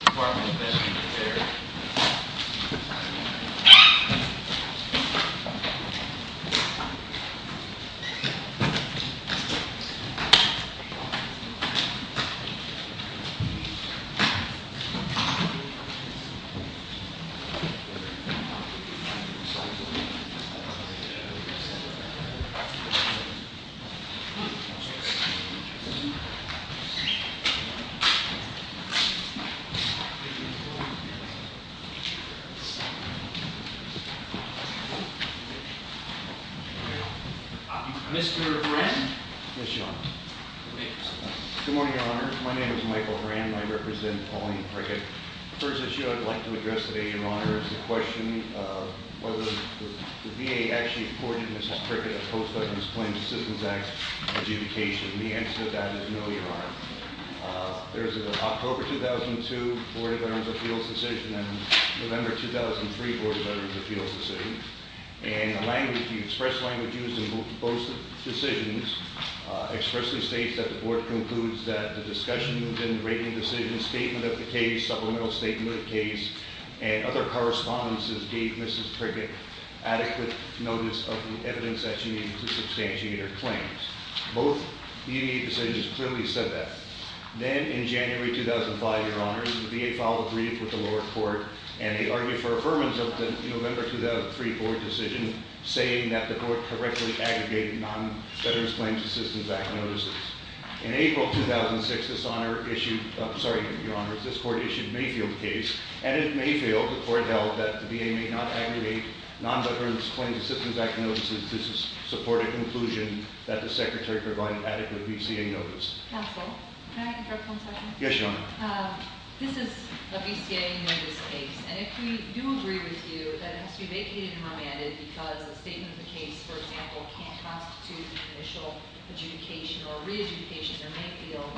Department of Medicine and Care Mr. Hran Good morning, Your Honor. My name is Michael Hran, and I represent Pauline Prickett. The first issue I'd like to address today, Your Honor, is the question of whether the VA actually afforded Mrs. Prickett a post-victim's claims assistance act adjudication. And the answer to that is no, Your Honor. There's an October 2002 Board of Veterans Appeals decision and a November 2003 Board of Veterans Appeals decision. And the language, the express language used in both decisions expressly states that the board concludes that the discussion within the rating decision, statement of the case, supplemental statement of the case, and other correspondences gave Mrs. Prickett adequate notice of the evidence that she needed to substantiate her claims. Both DVA decisions clearly said that. Then in January 2005, Your Honor, the VA filed a brief with the lower court, and they argued for affirmance of the November 2003 board decision, saying that the court correctly aggregated non-veterans claims assistance act notices. In April 2006, this court issued Mayfield's case, and in Mayfield, the court held that the VA may not aggregate non-veterans claims assistance act notices to support a conclusion that the secretary provided adequate VCA notice. Counsel, can I interrupt one second? Yes, Your Honor. This is a VCA notice case, and if we do agree with you that it has to be vacated and remanded because the statement of the case, for example, can't constitute initial adjudication or re-adjudication in Mayfield,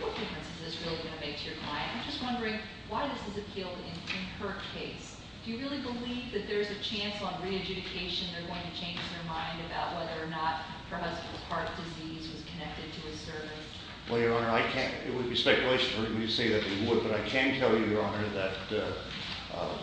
what difference is this really going to make to your client? I'm just wondering why this is appealed in her case. Do you really believe that there's a chance on re-adjudication they're going to change their mind about whether or not her husband's heart disease was connected to his service? Well, Your Honor, I can't. It would be speculation for me to say that it would, but I can tell you, Your Honor, that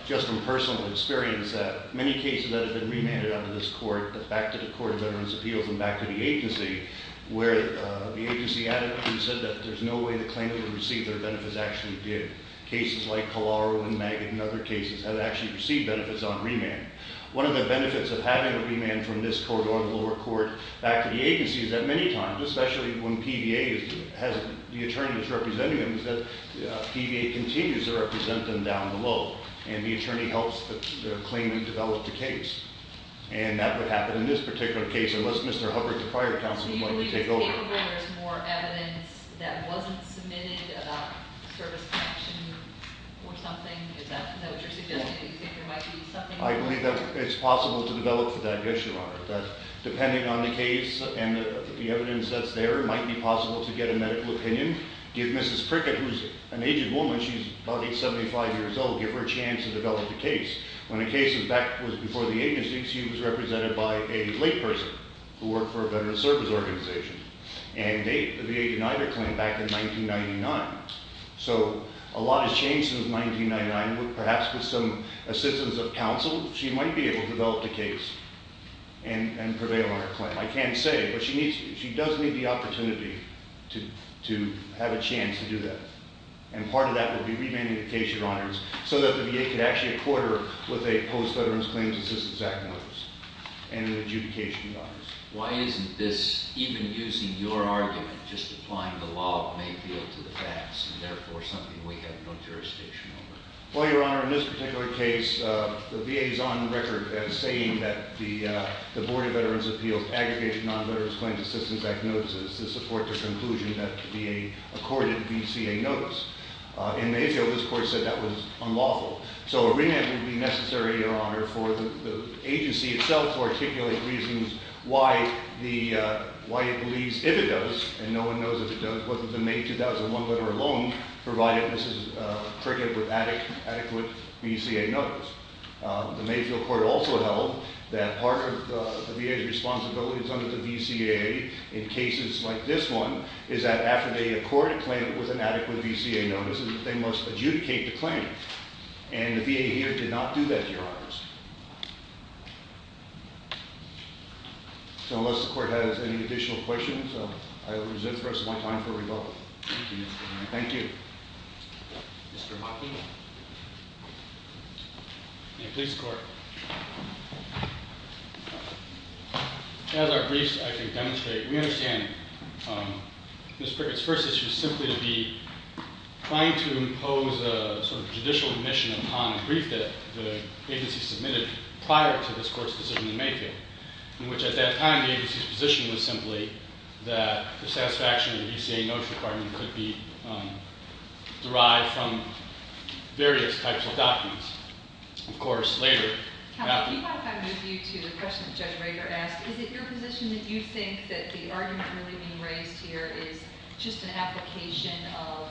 just from personal experience, that many cases that have been remanded under this court, back to the Court of Veterans' Appeals and back to the agency, where the agency added and said that there's no way the claimant would receive their benefits actually did. Cases like Collaro and Maggett and other cases have actually received benefits on remand. One of the benefits of having a remand from this court or the lower court back to the agency is that many times, especially when PVA has the attorneys representing them, is that PVA continues to represent them down below, and the attorney helps the claimant develop the case. And that would happen in this particular case unless Mr. Hubbard, the prior counsel, would like to take over. Do you think there's more evidence that wasn't submitted about service connection or something? Is that what you're suggesting? Do you think there might be something? I believe that it's possible to develop for that, yes, Your Honor, that depending on the case and the evidence that's there, it might be possible to get a medical opinion, give Mrs. Prickett, who's an aged woman, she's probably 75 years old, give her a chance to develop the case. When the case, in fact, was before the agency, she was represented by a layperson who worked for a veterans' service organization. And they denied her claim back in 1999. So a lot has changed since 1999. Perhaps with some assistance of counsel, she might be able to develop the case and prevail on her claim. I can't say, but she does need the opportunity to have a chance to do that. And part of that would be remanding the case, Your Honors, so that the VA could actually accord her with a Post-Veterans Claims Assistance Act notice and an adjudication notice. Why isn't this, even using your argument, just applying the law of Mayfield to the facts, and therefore something we have no jurisdiction over? Well, Your Honor, in this particular case, the VA is on record as saying that the Board of Veterans Appeals would aggregate non-veterans' claims assistance act notices to support the conclusion that the VA accorded VCA notice. In Mayfield, this Court said that was unlawful. So a remand would be necessary, Your Honor, for the agency itself to articulate reasons why it believes, if it does, and no one knows if it does, whether the May 2001 letter alone provided Mrs. Prickett with adequate VCA notice. The Mayfield Court also held that part of the VA's responsibility under the VCA in cases like this one is that after they accord a claim with an adequate VCA notice, they must adjudicate the claim. And the VA here did not do that, Your Honors. So unless the Court has any additional questions, I will reserve the rest of my time for rebuttal. Thank you. Thank you. Mr. Hoffman. May it please the Court. As our briefs, I think, demonstrate, we understand Mrs. Prickett's first issue is simply to be trying to impose a sort of judicial admission upon a brief that the agency submitted prior to this Court's decision in Mayfield, in which at that time the agency's position was simply that the satisfaction of the VCA notice requirement could be derived from various types of documents. Of course, later... Counsel, do you mind if I move you to the question that Judge Rader asked? Is it your position that you think that the argument really being raised here is just an application of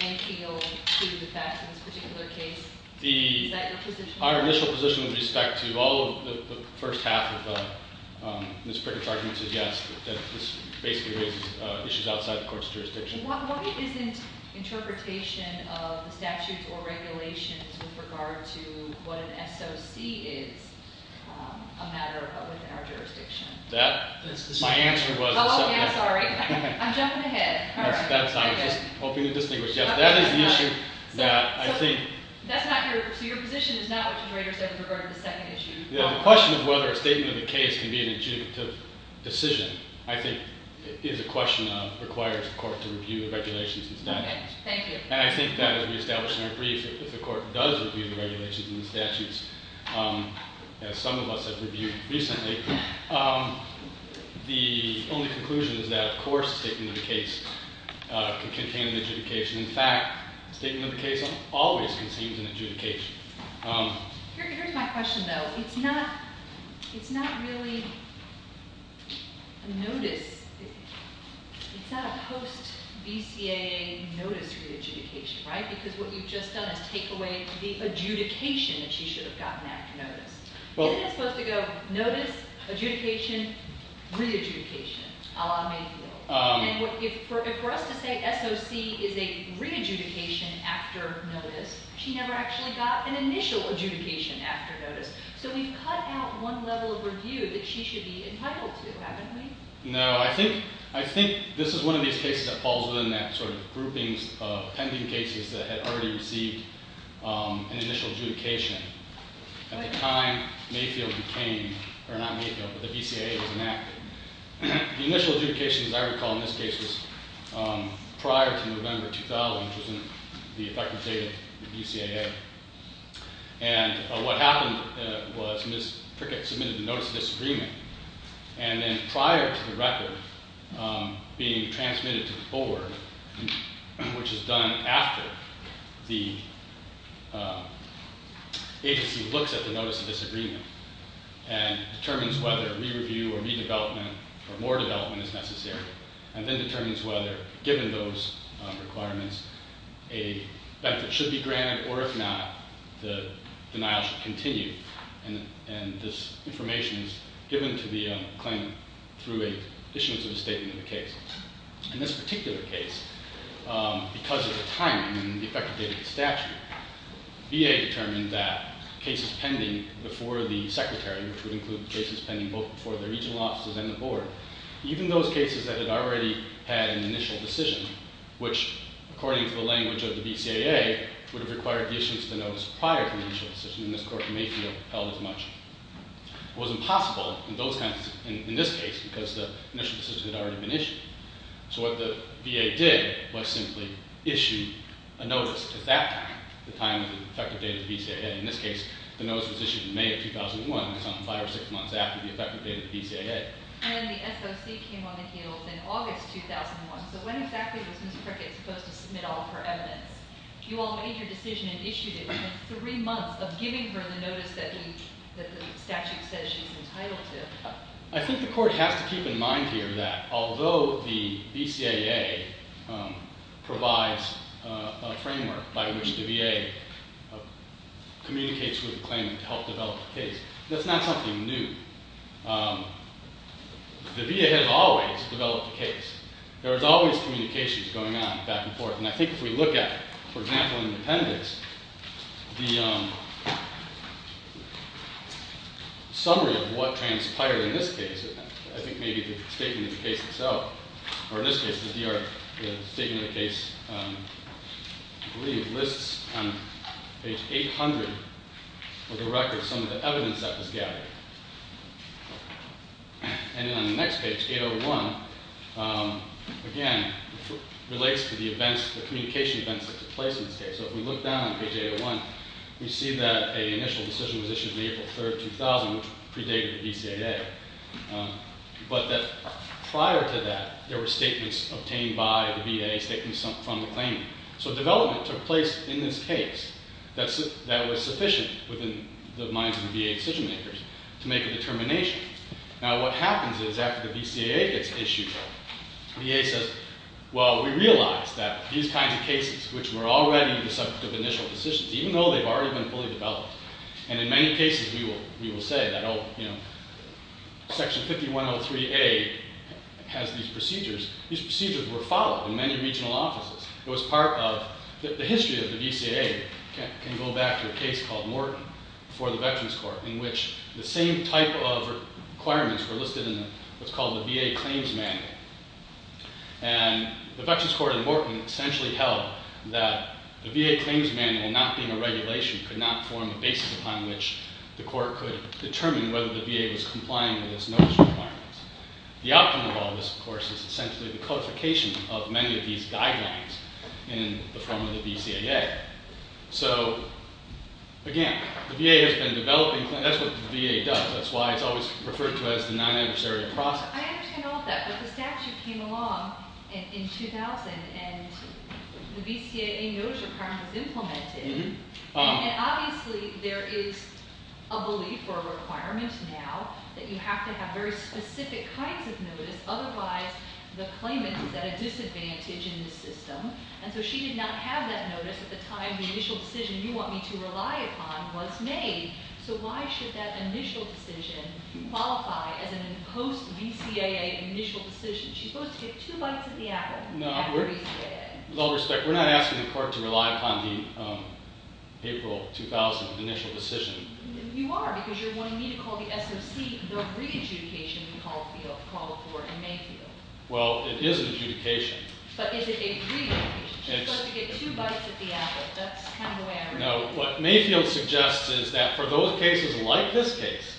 Mayfield to the facts in this particular case? Is that your position? Our initial position with respect to all of the first half of Mrs. Prickett's argument is yes, that this basically raises issues outside the Court's jurisdiction. Why isn't interpretation of the statutes or regulations with regard to what an SOC is a matter within our jurisdiction? That, my answer was... Oh, yeah, sorry. I'm jumping ahead. I was just hoping to distinguish. Yes, that is the issue that I think... So your position is not what Judge Rader said with regard to the second issue. The question of whether a statement of the case can be an adjudicative decision, I think, is a question that requires the Court to review the regulations and statutes. And I think that, as we established in our brief, if the Court does review the regulations and the statutes, as some of us have reviewed recently, the only conclusion is that, of course, a statement of the case can contain an adjudication. In fact, a statement of the case always contains an adjudication. Here's my question, though. It's not really a notice. It's not a post-BCAA notice re-adjudication, right? Because what you've just done is take away the adjudication that she should have gotten after notice. Isn't it supposed to go notice, adjudication, re-adjudication, a la Mayfield? And if for us to say SOC is a re-adjudication after notice, she never actually got an initial adjudication after notice. So we've cut out one level of review that she should be entitled to, haven't we? No. I think this is one of these cases that falls within that sort of groupings of pending cases that had already received an initial adjudication. At the time Mayfield became – or not Mayfield, but the BCAA was enacted. The initial adjudication, as I recall in this case, was prior to November 2000, which was in the effective date of the BCAA. And what happened was Ms. Prickett submitted a notice of disagreement. And then prior to the record being transmitted to the board, which is done after the agency looks at the notice of disagreement and determines whether re-review or re-development or more development is necessary, and then determines whether, given those requirements, a benefit should be granted or if not, the denial should continue. And this information is given to the claimant through an issuance of a statement of the case. In this particular case, because of the timing and the effect of the statute, VA determined that cases pending before the secretary, which would include cases pending both before the regional offices and the board, even those cases that had already had an initial decision, which, according to the language of the BCAA, would have required the issuance of the notice prior to the initial decision in this court, Mayfield held as much. It was impossible in this case because the initial decision had already been issued. So what the VA did was simply issue a notice at that time, the time of the effective date of the BCAA. In this case, the notice was issued in May of 2001, so five or six months after the effective date of the BCAA. And the SOC came on the heels in August 2001. So when exactly was Ms. Prickett supposed to submit all of her evidence? You all made your decision and issued it within three months of giving her the notice that the statute says she's entitled to. I think the court has to keep in mind here that although the BCAA provides a framework by which the VA communicates with the claimant to help develop the case, that's not something new. The VA has always developed the case. There is always communications going on back and forth. And I think if we look at, for example, in the appendix, the summary of what transpired in this case, I think maybe the statement of the case itself, or in this case, the statement of the case, I believe, lists on page 800, for the record, some of the evidence that was gathered. And then on the next page, 801, again, relates to the communication events that took place in this case. So if we look down on page 801, we see that an initial decision was issued on April 3, 2000, which predated the BCAA, but that prior to that, there were statements obtained by the VA, statements from the claimant. So development took place in this case that was sufficient within the minds of the VA decision makers to make a determination. Now, what happens is after the BCAA gets issued, VA says, well, we realize that these kinds of cases, which were already the subject of initial decisions, even though they've already been fully developed, and in many cases we will say that Section 5103A has these procedures, these procedures were followed in many regional offices. It was part of – the history of the BCAA can go back to a case called Morton for the Veterans Court, in which the same type of requirements were listed in what's called the VA Claims Manual. And the Veterans Court in Morton essentially held that the VA Claims Manual, not being a regulation, could not form the basis upon which the court could determine whether the VA was complying with its notice requirements. The outcome of all this, of course, is essentially the codification of many of these guidelines in the form of the BCAA. So again, the VA has been developing – that's what the VA does. That's why it's always referred to as the non-adversarial process. I understand all of that, but the statute came along in 2000, and the BCAA notice requirement was implemented. Obviously, there is a belief or a requirement now that you have to have very specific kinds of notice. Otherwise, the claimant is at a disadvantage in the system. And so she did not have that notice at the time the initial decision you want me to rely upon was made. So why should that initial decision qualify as an imposed BCAA initial decision? She's supposed to get two bites of the apple at BCAA. With all respect, we're not asking the court to rely upon the April 2000 initial decision. You are, because you're wanting me to call the SOC the re-adjudication we called for in Mayfield. Well, it is an adjudication. But is it a re-adjudication? She's supposed to get two bites of the apple. That's kind of the way I read it. No, what Mayfield suggests is that for those cases like this case,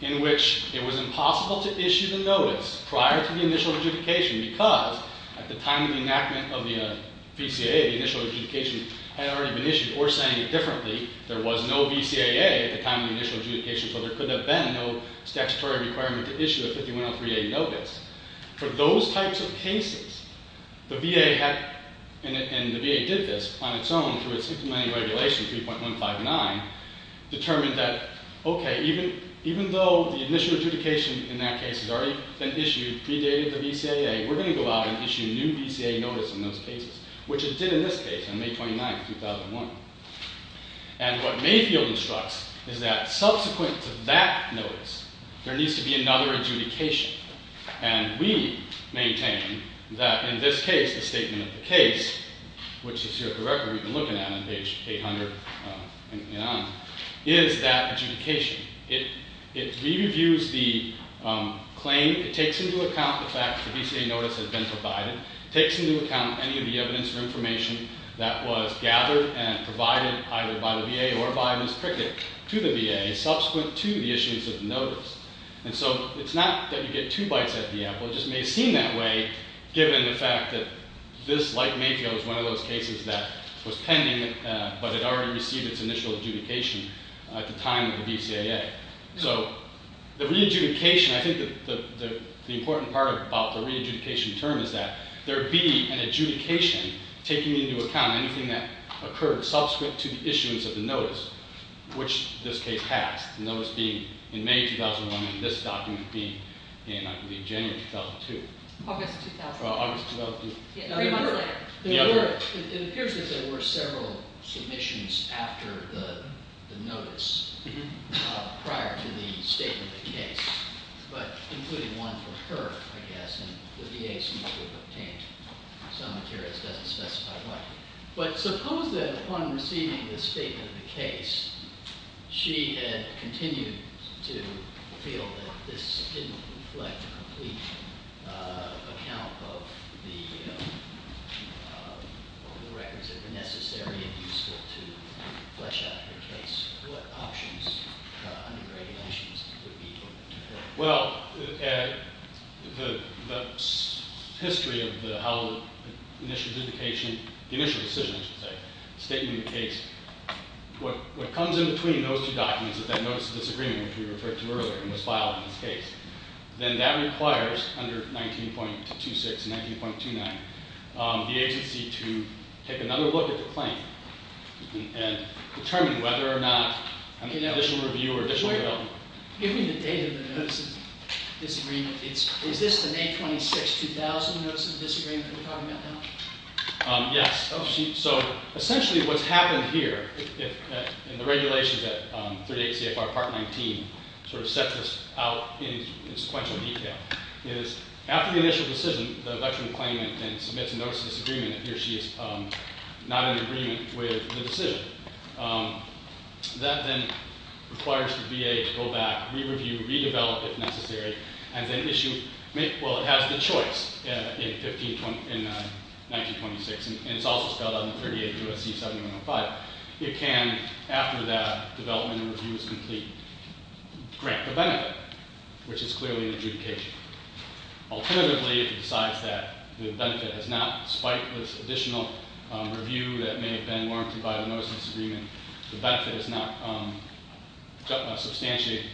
in which it was impossible to issue the notice prior to the initial adjudication because at the time of the enactment of the BCAA, the initial adjudication had already been issued, or saying it differently, there was no BCAA at the time of the initial adjudication, so there could have been no statutory requirement to issue a 5103A notice. For those types of cases, the VA did this on its own through its implementing regulation 3.159, determined that, OK, even though the initial adjudication in that case had already been issued predated the BCAA, we're going to go out and issue a new BCAA notice in those cases, which it did in this case on May 29, 2001. And what Mayfield instructs is that subsequent to that notice, there needs to be another adjudication. And we maintain that in this case, the statement of the case, which is here at the record we've been looking at on page 800 and on, is that adjudication. It re-reviews the claim. It takes into account the fact that the BCAA notice has been provided. It takes into account any of the evidence or information that was gathered and provided either by the VA or by Ms. Cricket to the VA subsequent to the issuance of the notice. And so it's not that you get two bites at the apple. It just may seem that way given the fact that this, like Mayfield, was one of those cases that was pending but had already received its initial adjudication at the time of the BCAA. So the re-adjudication, I think the important part about the re-adjudication term is that there be an adjudication taking into account anything that occurred subsequent to the issuance of the notice, which this case has, the notice being in May 2001 and this document being in, I believe, January 2002. August 2000. Well, August 2002. Three months later. It appears that there were several submissions after the notice prior to the statement of the case, but including one for her, I guess, and the VA seems to have obtained some materials. It doesn't specify why. But suppose that upon receiving the statement of the case, she had continued to feel that this didn't reflect a complete account of the records that were necessary and useful to flesh out her case. What options, undergraduations, would be appropriate? Well, the history of how the initial adjudication, the initial decision, I should say, the statement of the case, what comes in between those two documents is that notice of disagreement, which we referred to earlier and was filed in this case. Then that requires, under 19.26 and 19.29, the agency to take another look at the claim and determine whether or not an additional review or additional development. Give me the date of the notice of disagreement. Is this the May 26, 2000 notice of disagreement that we're talking about now? Yes. So essentially what's happened here, and the regulations at 38 CFR Part 19 sort of set this out in sequential detail, is after the initial decision, the veteran claimant then submits a notice of disagreement if he or she is not in agreement with the decision. That then requires the VA to go back, re-review, re-develop if necessary, and then issue, well, it has the choice in 19.26, and it's also spelled out in 38 U.S.C. 7105. It can, after that development and review is complete, grant the benefit, which is clearly an adjudication. Alternatively, if it decides that the benefit has not, despite this additional review that may have been warranted by the notice of disagreement, the benefit is not substantiated,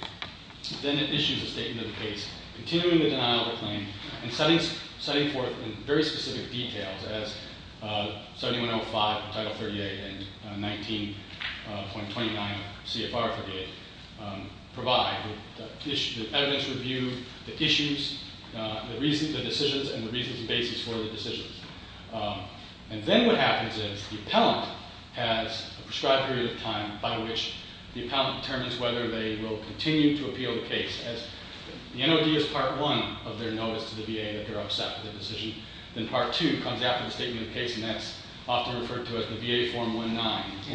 then it issues a statement of the case, continuing the denial of the claim, and setting forth in very specific details as 7105, Title 38, and 19.29 CFR 38 provide, the evidence review, the issues, the reasons, the decisions, and the reasons and basis for the decisions. And then what happens is the appellant has a prescribed period of time by which the appellant determines whether they will continue to appeal the case. As the NOD is Part 1 of their notice to the VA that they're upset with the decision, then Part 2 comes after the statement of the case, and that's often referred to as the VA Form 19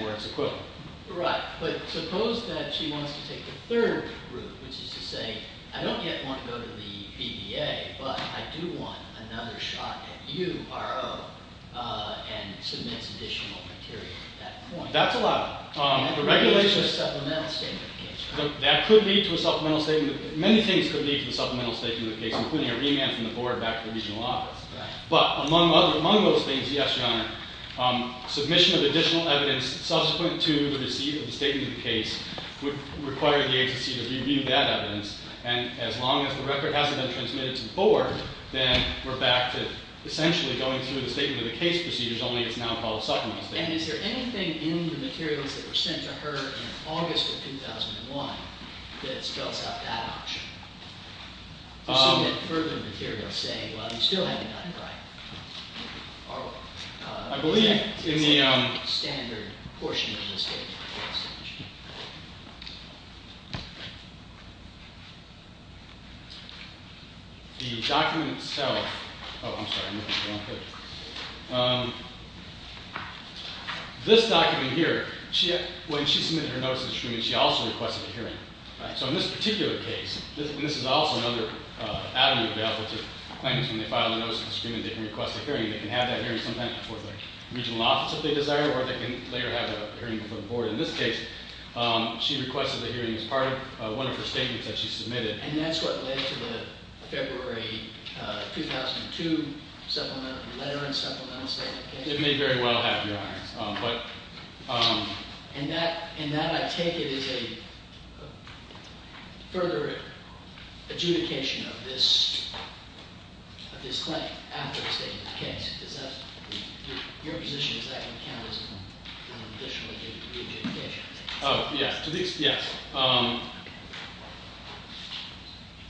for its equivalent. Right. But suppose that she wants to take the third route, which is to say, I don't yet want to go to the BVA, but I do want another shot at you, R.O., and submits additional material at that point. That's allowed. The regulation is a supplemental statement of the case. That could lead to a supplemental statement of the case. Many things could lead to a supplemental statement of the case, including a remand from the board back to the regional office. But among those things, yes, Your Honor, submission of additional evidence subsequent to the receipt of the statement of the case would require the agency to review that evidence. And as long as the record hasn't been transmitted to the board, then we're back to essentially going through the statement of the case procedures, only it's now called a supplemental statement of the case. And is there anything in the materials that were sent to her in August of 2001 that spells out that option? Submit further material saying, well, you still haven't done it right. I believe in the standard portion of the statement. The document itself – oh, I'm sorry. This document here, when she submitted her notice of discrimination, she also requested a hearing. So in this particular case – and this is also another avenue to be able to – when they file a notice of discrimination, they can request a hearing. They can have that hearing sometime before the regional office, if they desire, or they can later have a hearing before the board. In this case, she requested a hearing as part of one of her statements that she submitted. And that's what led to the February 2002 letter and supplemental statement of the case? It may very well have, Your Honor. And that, I take it, is a further adjudication of this claim after the statement of the case? Does that – your position is that we can't listen to additional re-adjudications? Oh, yes.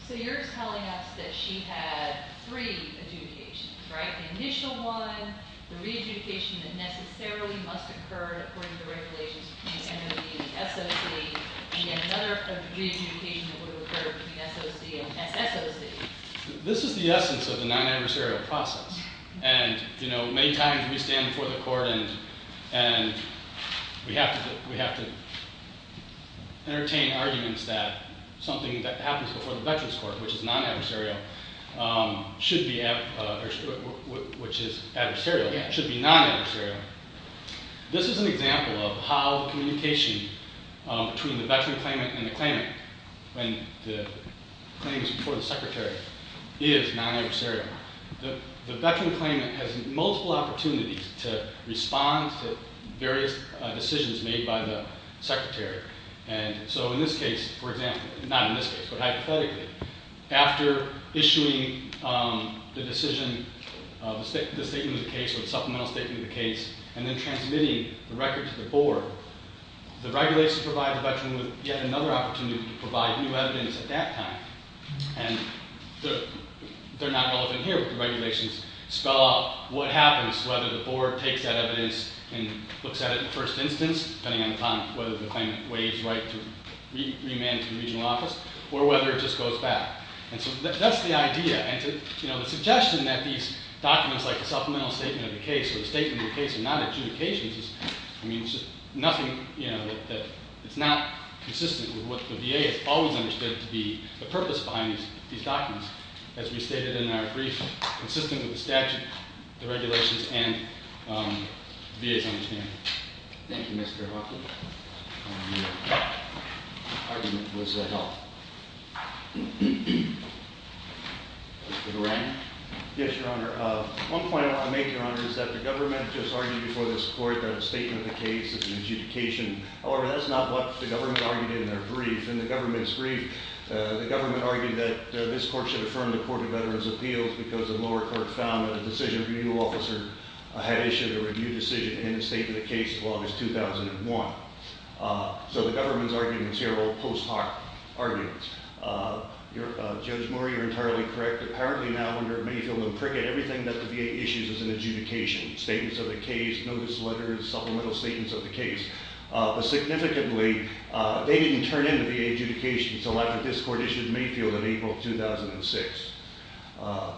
So you're telling us that she had three adjudications, right? The initial one, the re-adjudication that necessarily must occur according to regulations between the SOC and another re-adjudication that would occur between the SOC and SSOC. This is the essence of the non-adversarial process. And, you know, many times we stand before the court and we have to entertain arguments that something that happens before the Veterans Court, which is non-adversarial, should be – which is adversarial, should be non-adversarial. This is an example of how communication between the veteran claimant and the claimant when the claim is before the secretary is non-adversarial. The veteran claimant has multiple opportunities to respond to various decisions made by the secretary. And so in this case, for example – not in this case, but hypothetically – after issuing the decision of the statement of the case or the supplemental statement of the case and then transmitting the record to the board, the regulations provide the veteran with yet another opportunity to provide new evidence at that time. And they're not relevant here, but the regulations spell out what happens, whether the board takes that evidence and looks at it in the first instance, depending upon whether the claimant waives right to remand to the regional office, or whether it just goes back. And so that's the idea. And, you know, the suggestion that these documents like the supplemental statement of the case or the statement of the case are not adjudications is – I mean, it's just nothing, you know, that it's not consistent with what the VA has always understood to be the purpose behind these documents, as we stated in our brief, consistent with the statute, the regulations, and the VA's understanding. Thank you, Mr. Hoffman. Your argument was helpful. Mr. Duran. Yes, Your Honor. One point I want to make, Your Honor, is that the government just argued before this court that a statement of the case is an adjudication. However, that's not what the government argued in their brief. In the government's brief, the government argued that this court should affirm the Court of Veterans' Appeals because the lower court found that a decision review officer had issued a review decision in the statement of the case of August 2001. So the government's arguments here are all post hoc arguments. Judge Murray, you're entirely correct. Apparently now under Mayfield and Prickett, everything that the VA issues is an adjudication. Statements of the case, notice letters, supplemental statements of the case. But significantly, they didn't turn in the VA adjudication, so that's what this court issued in Mayfield in April 2006.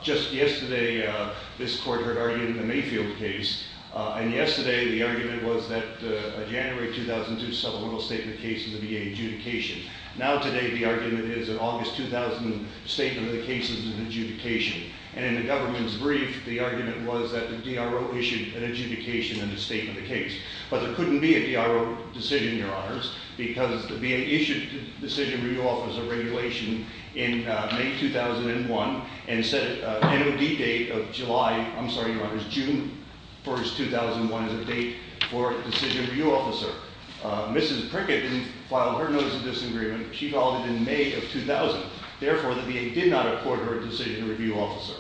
Just yesterday, this court heard argued in the Mayfield case, and yesterday the argument was that a January 2002 supplemental statement case would be an adjudication. Now today the argument is an August 2000 statement of the case is an adjudication. And in the government's brief, the argument was that the DRO issued an adjudication in the statement of the case. But there couldn't be a DRO decision, Your Honors, because the VA issued a decision review officer regulation in May 2001 and set an NOD date of June 1, 2001 as a date for a decision review officer. Mrs. Prickett didn't file her notice of disagreement. She filed it in May of 2000. Therefore, the VA did not accord her a decision review officer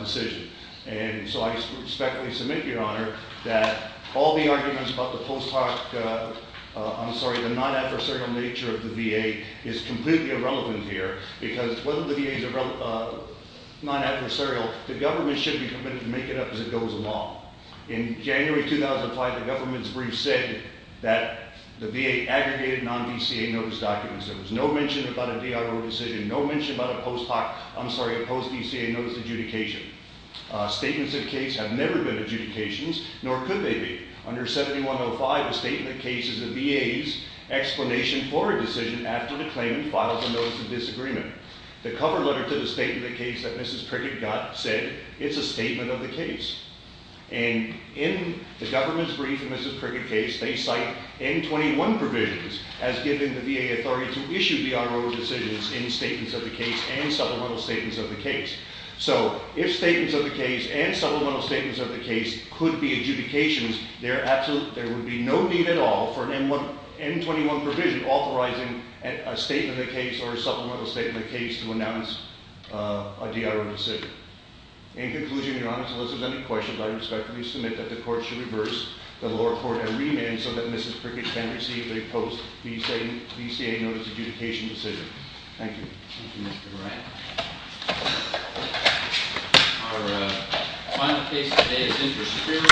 decision. And so I respectfully submit, Your Honor, that all the arguments about the post hoc, I'm sorry, the non-adversarial nature of the VA is completely irrelevant here because whether the VA is non-adversarial, the government should be permitted to make it up as it goes along. In January 2005, the government's brief said that the VA aggregated non-VCA notice documents. There was no mention about a DRO decision, no mention about a post hoc, I'm sorry, a post-VCA notice adjudication. Statements of case have never been adjudications, nor could they be. Under 7105, the statement of the case is the VA's explanation for a decision after the claimant files a notice of disagreement. The cover letter to the statement of the case that Mrs. Prickett got said it's a statement of the case. And in the government's brief in Mrs. Prickett's case, they cite N21 provisions as giving the VA authority to issue DRO decisions in statements of the case and supplemental statements of the case. So if statements of the case and supplemental statements of the case could be adjudications, there would be no need at all for an N21 provision authorizing a statement of the case or a supplemental statement of the case to announce a DRO decision. In conclusion, Your Honor, unless there's any questions, I respectfully submit that the court should reverse the lower court arraignment so that Mrs. Prickett can receive a post-VCA notice adjudication decision. Thank you. Thank you, Mr. Moran.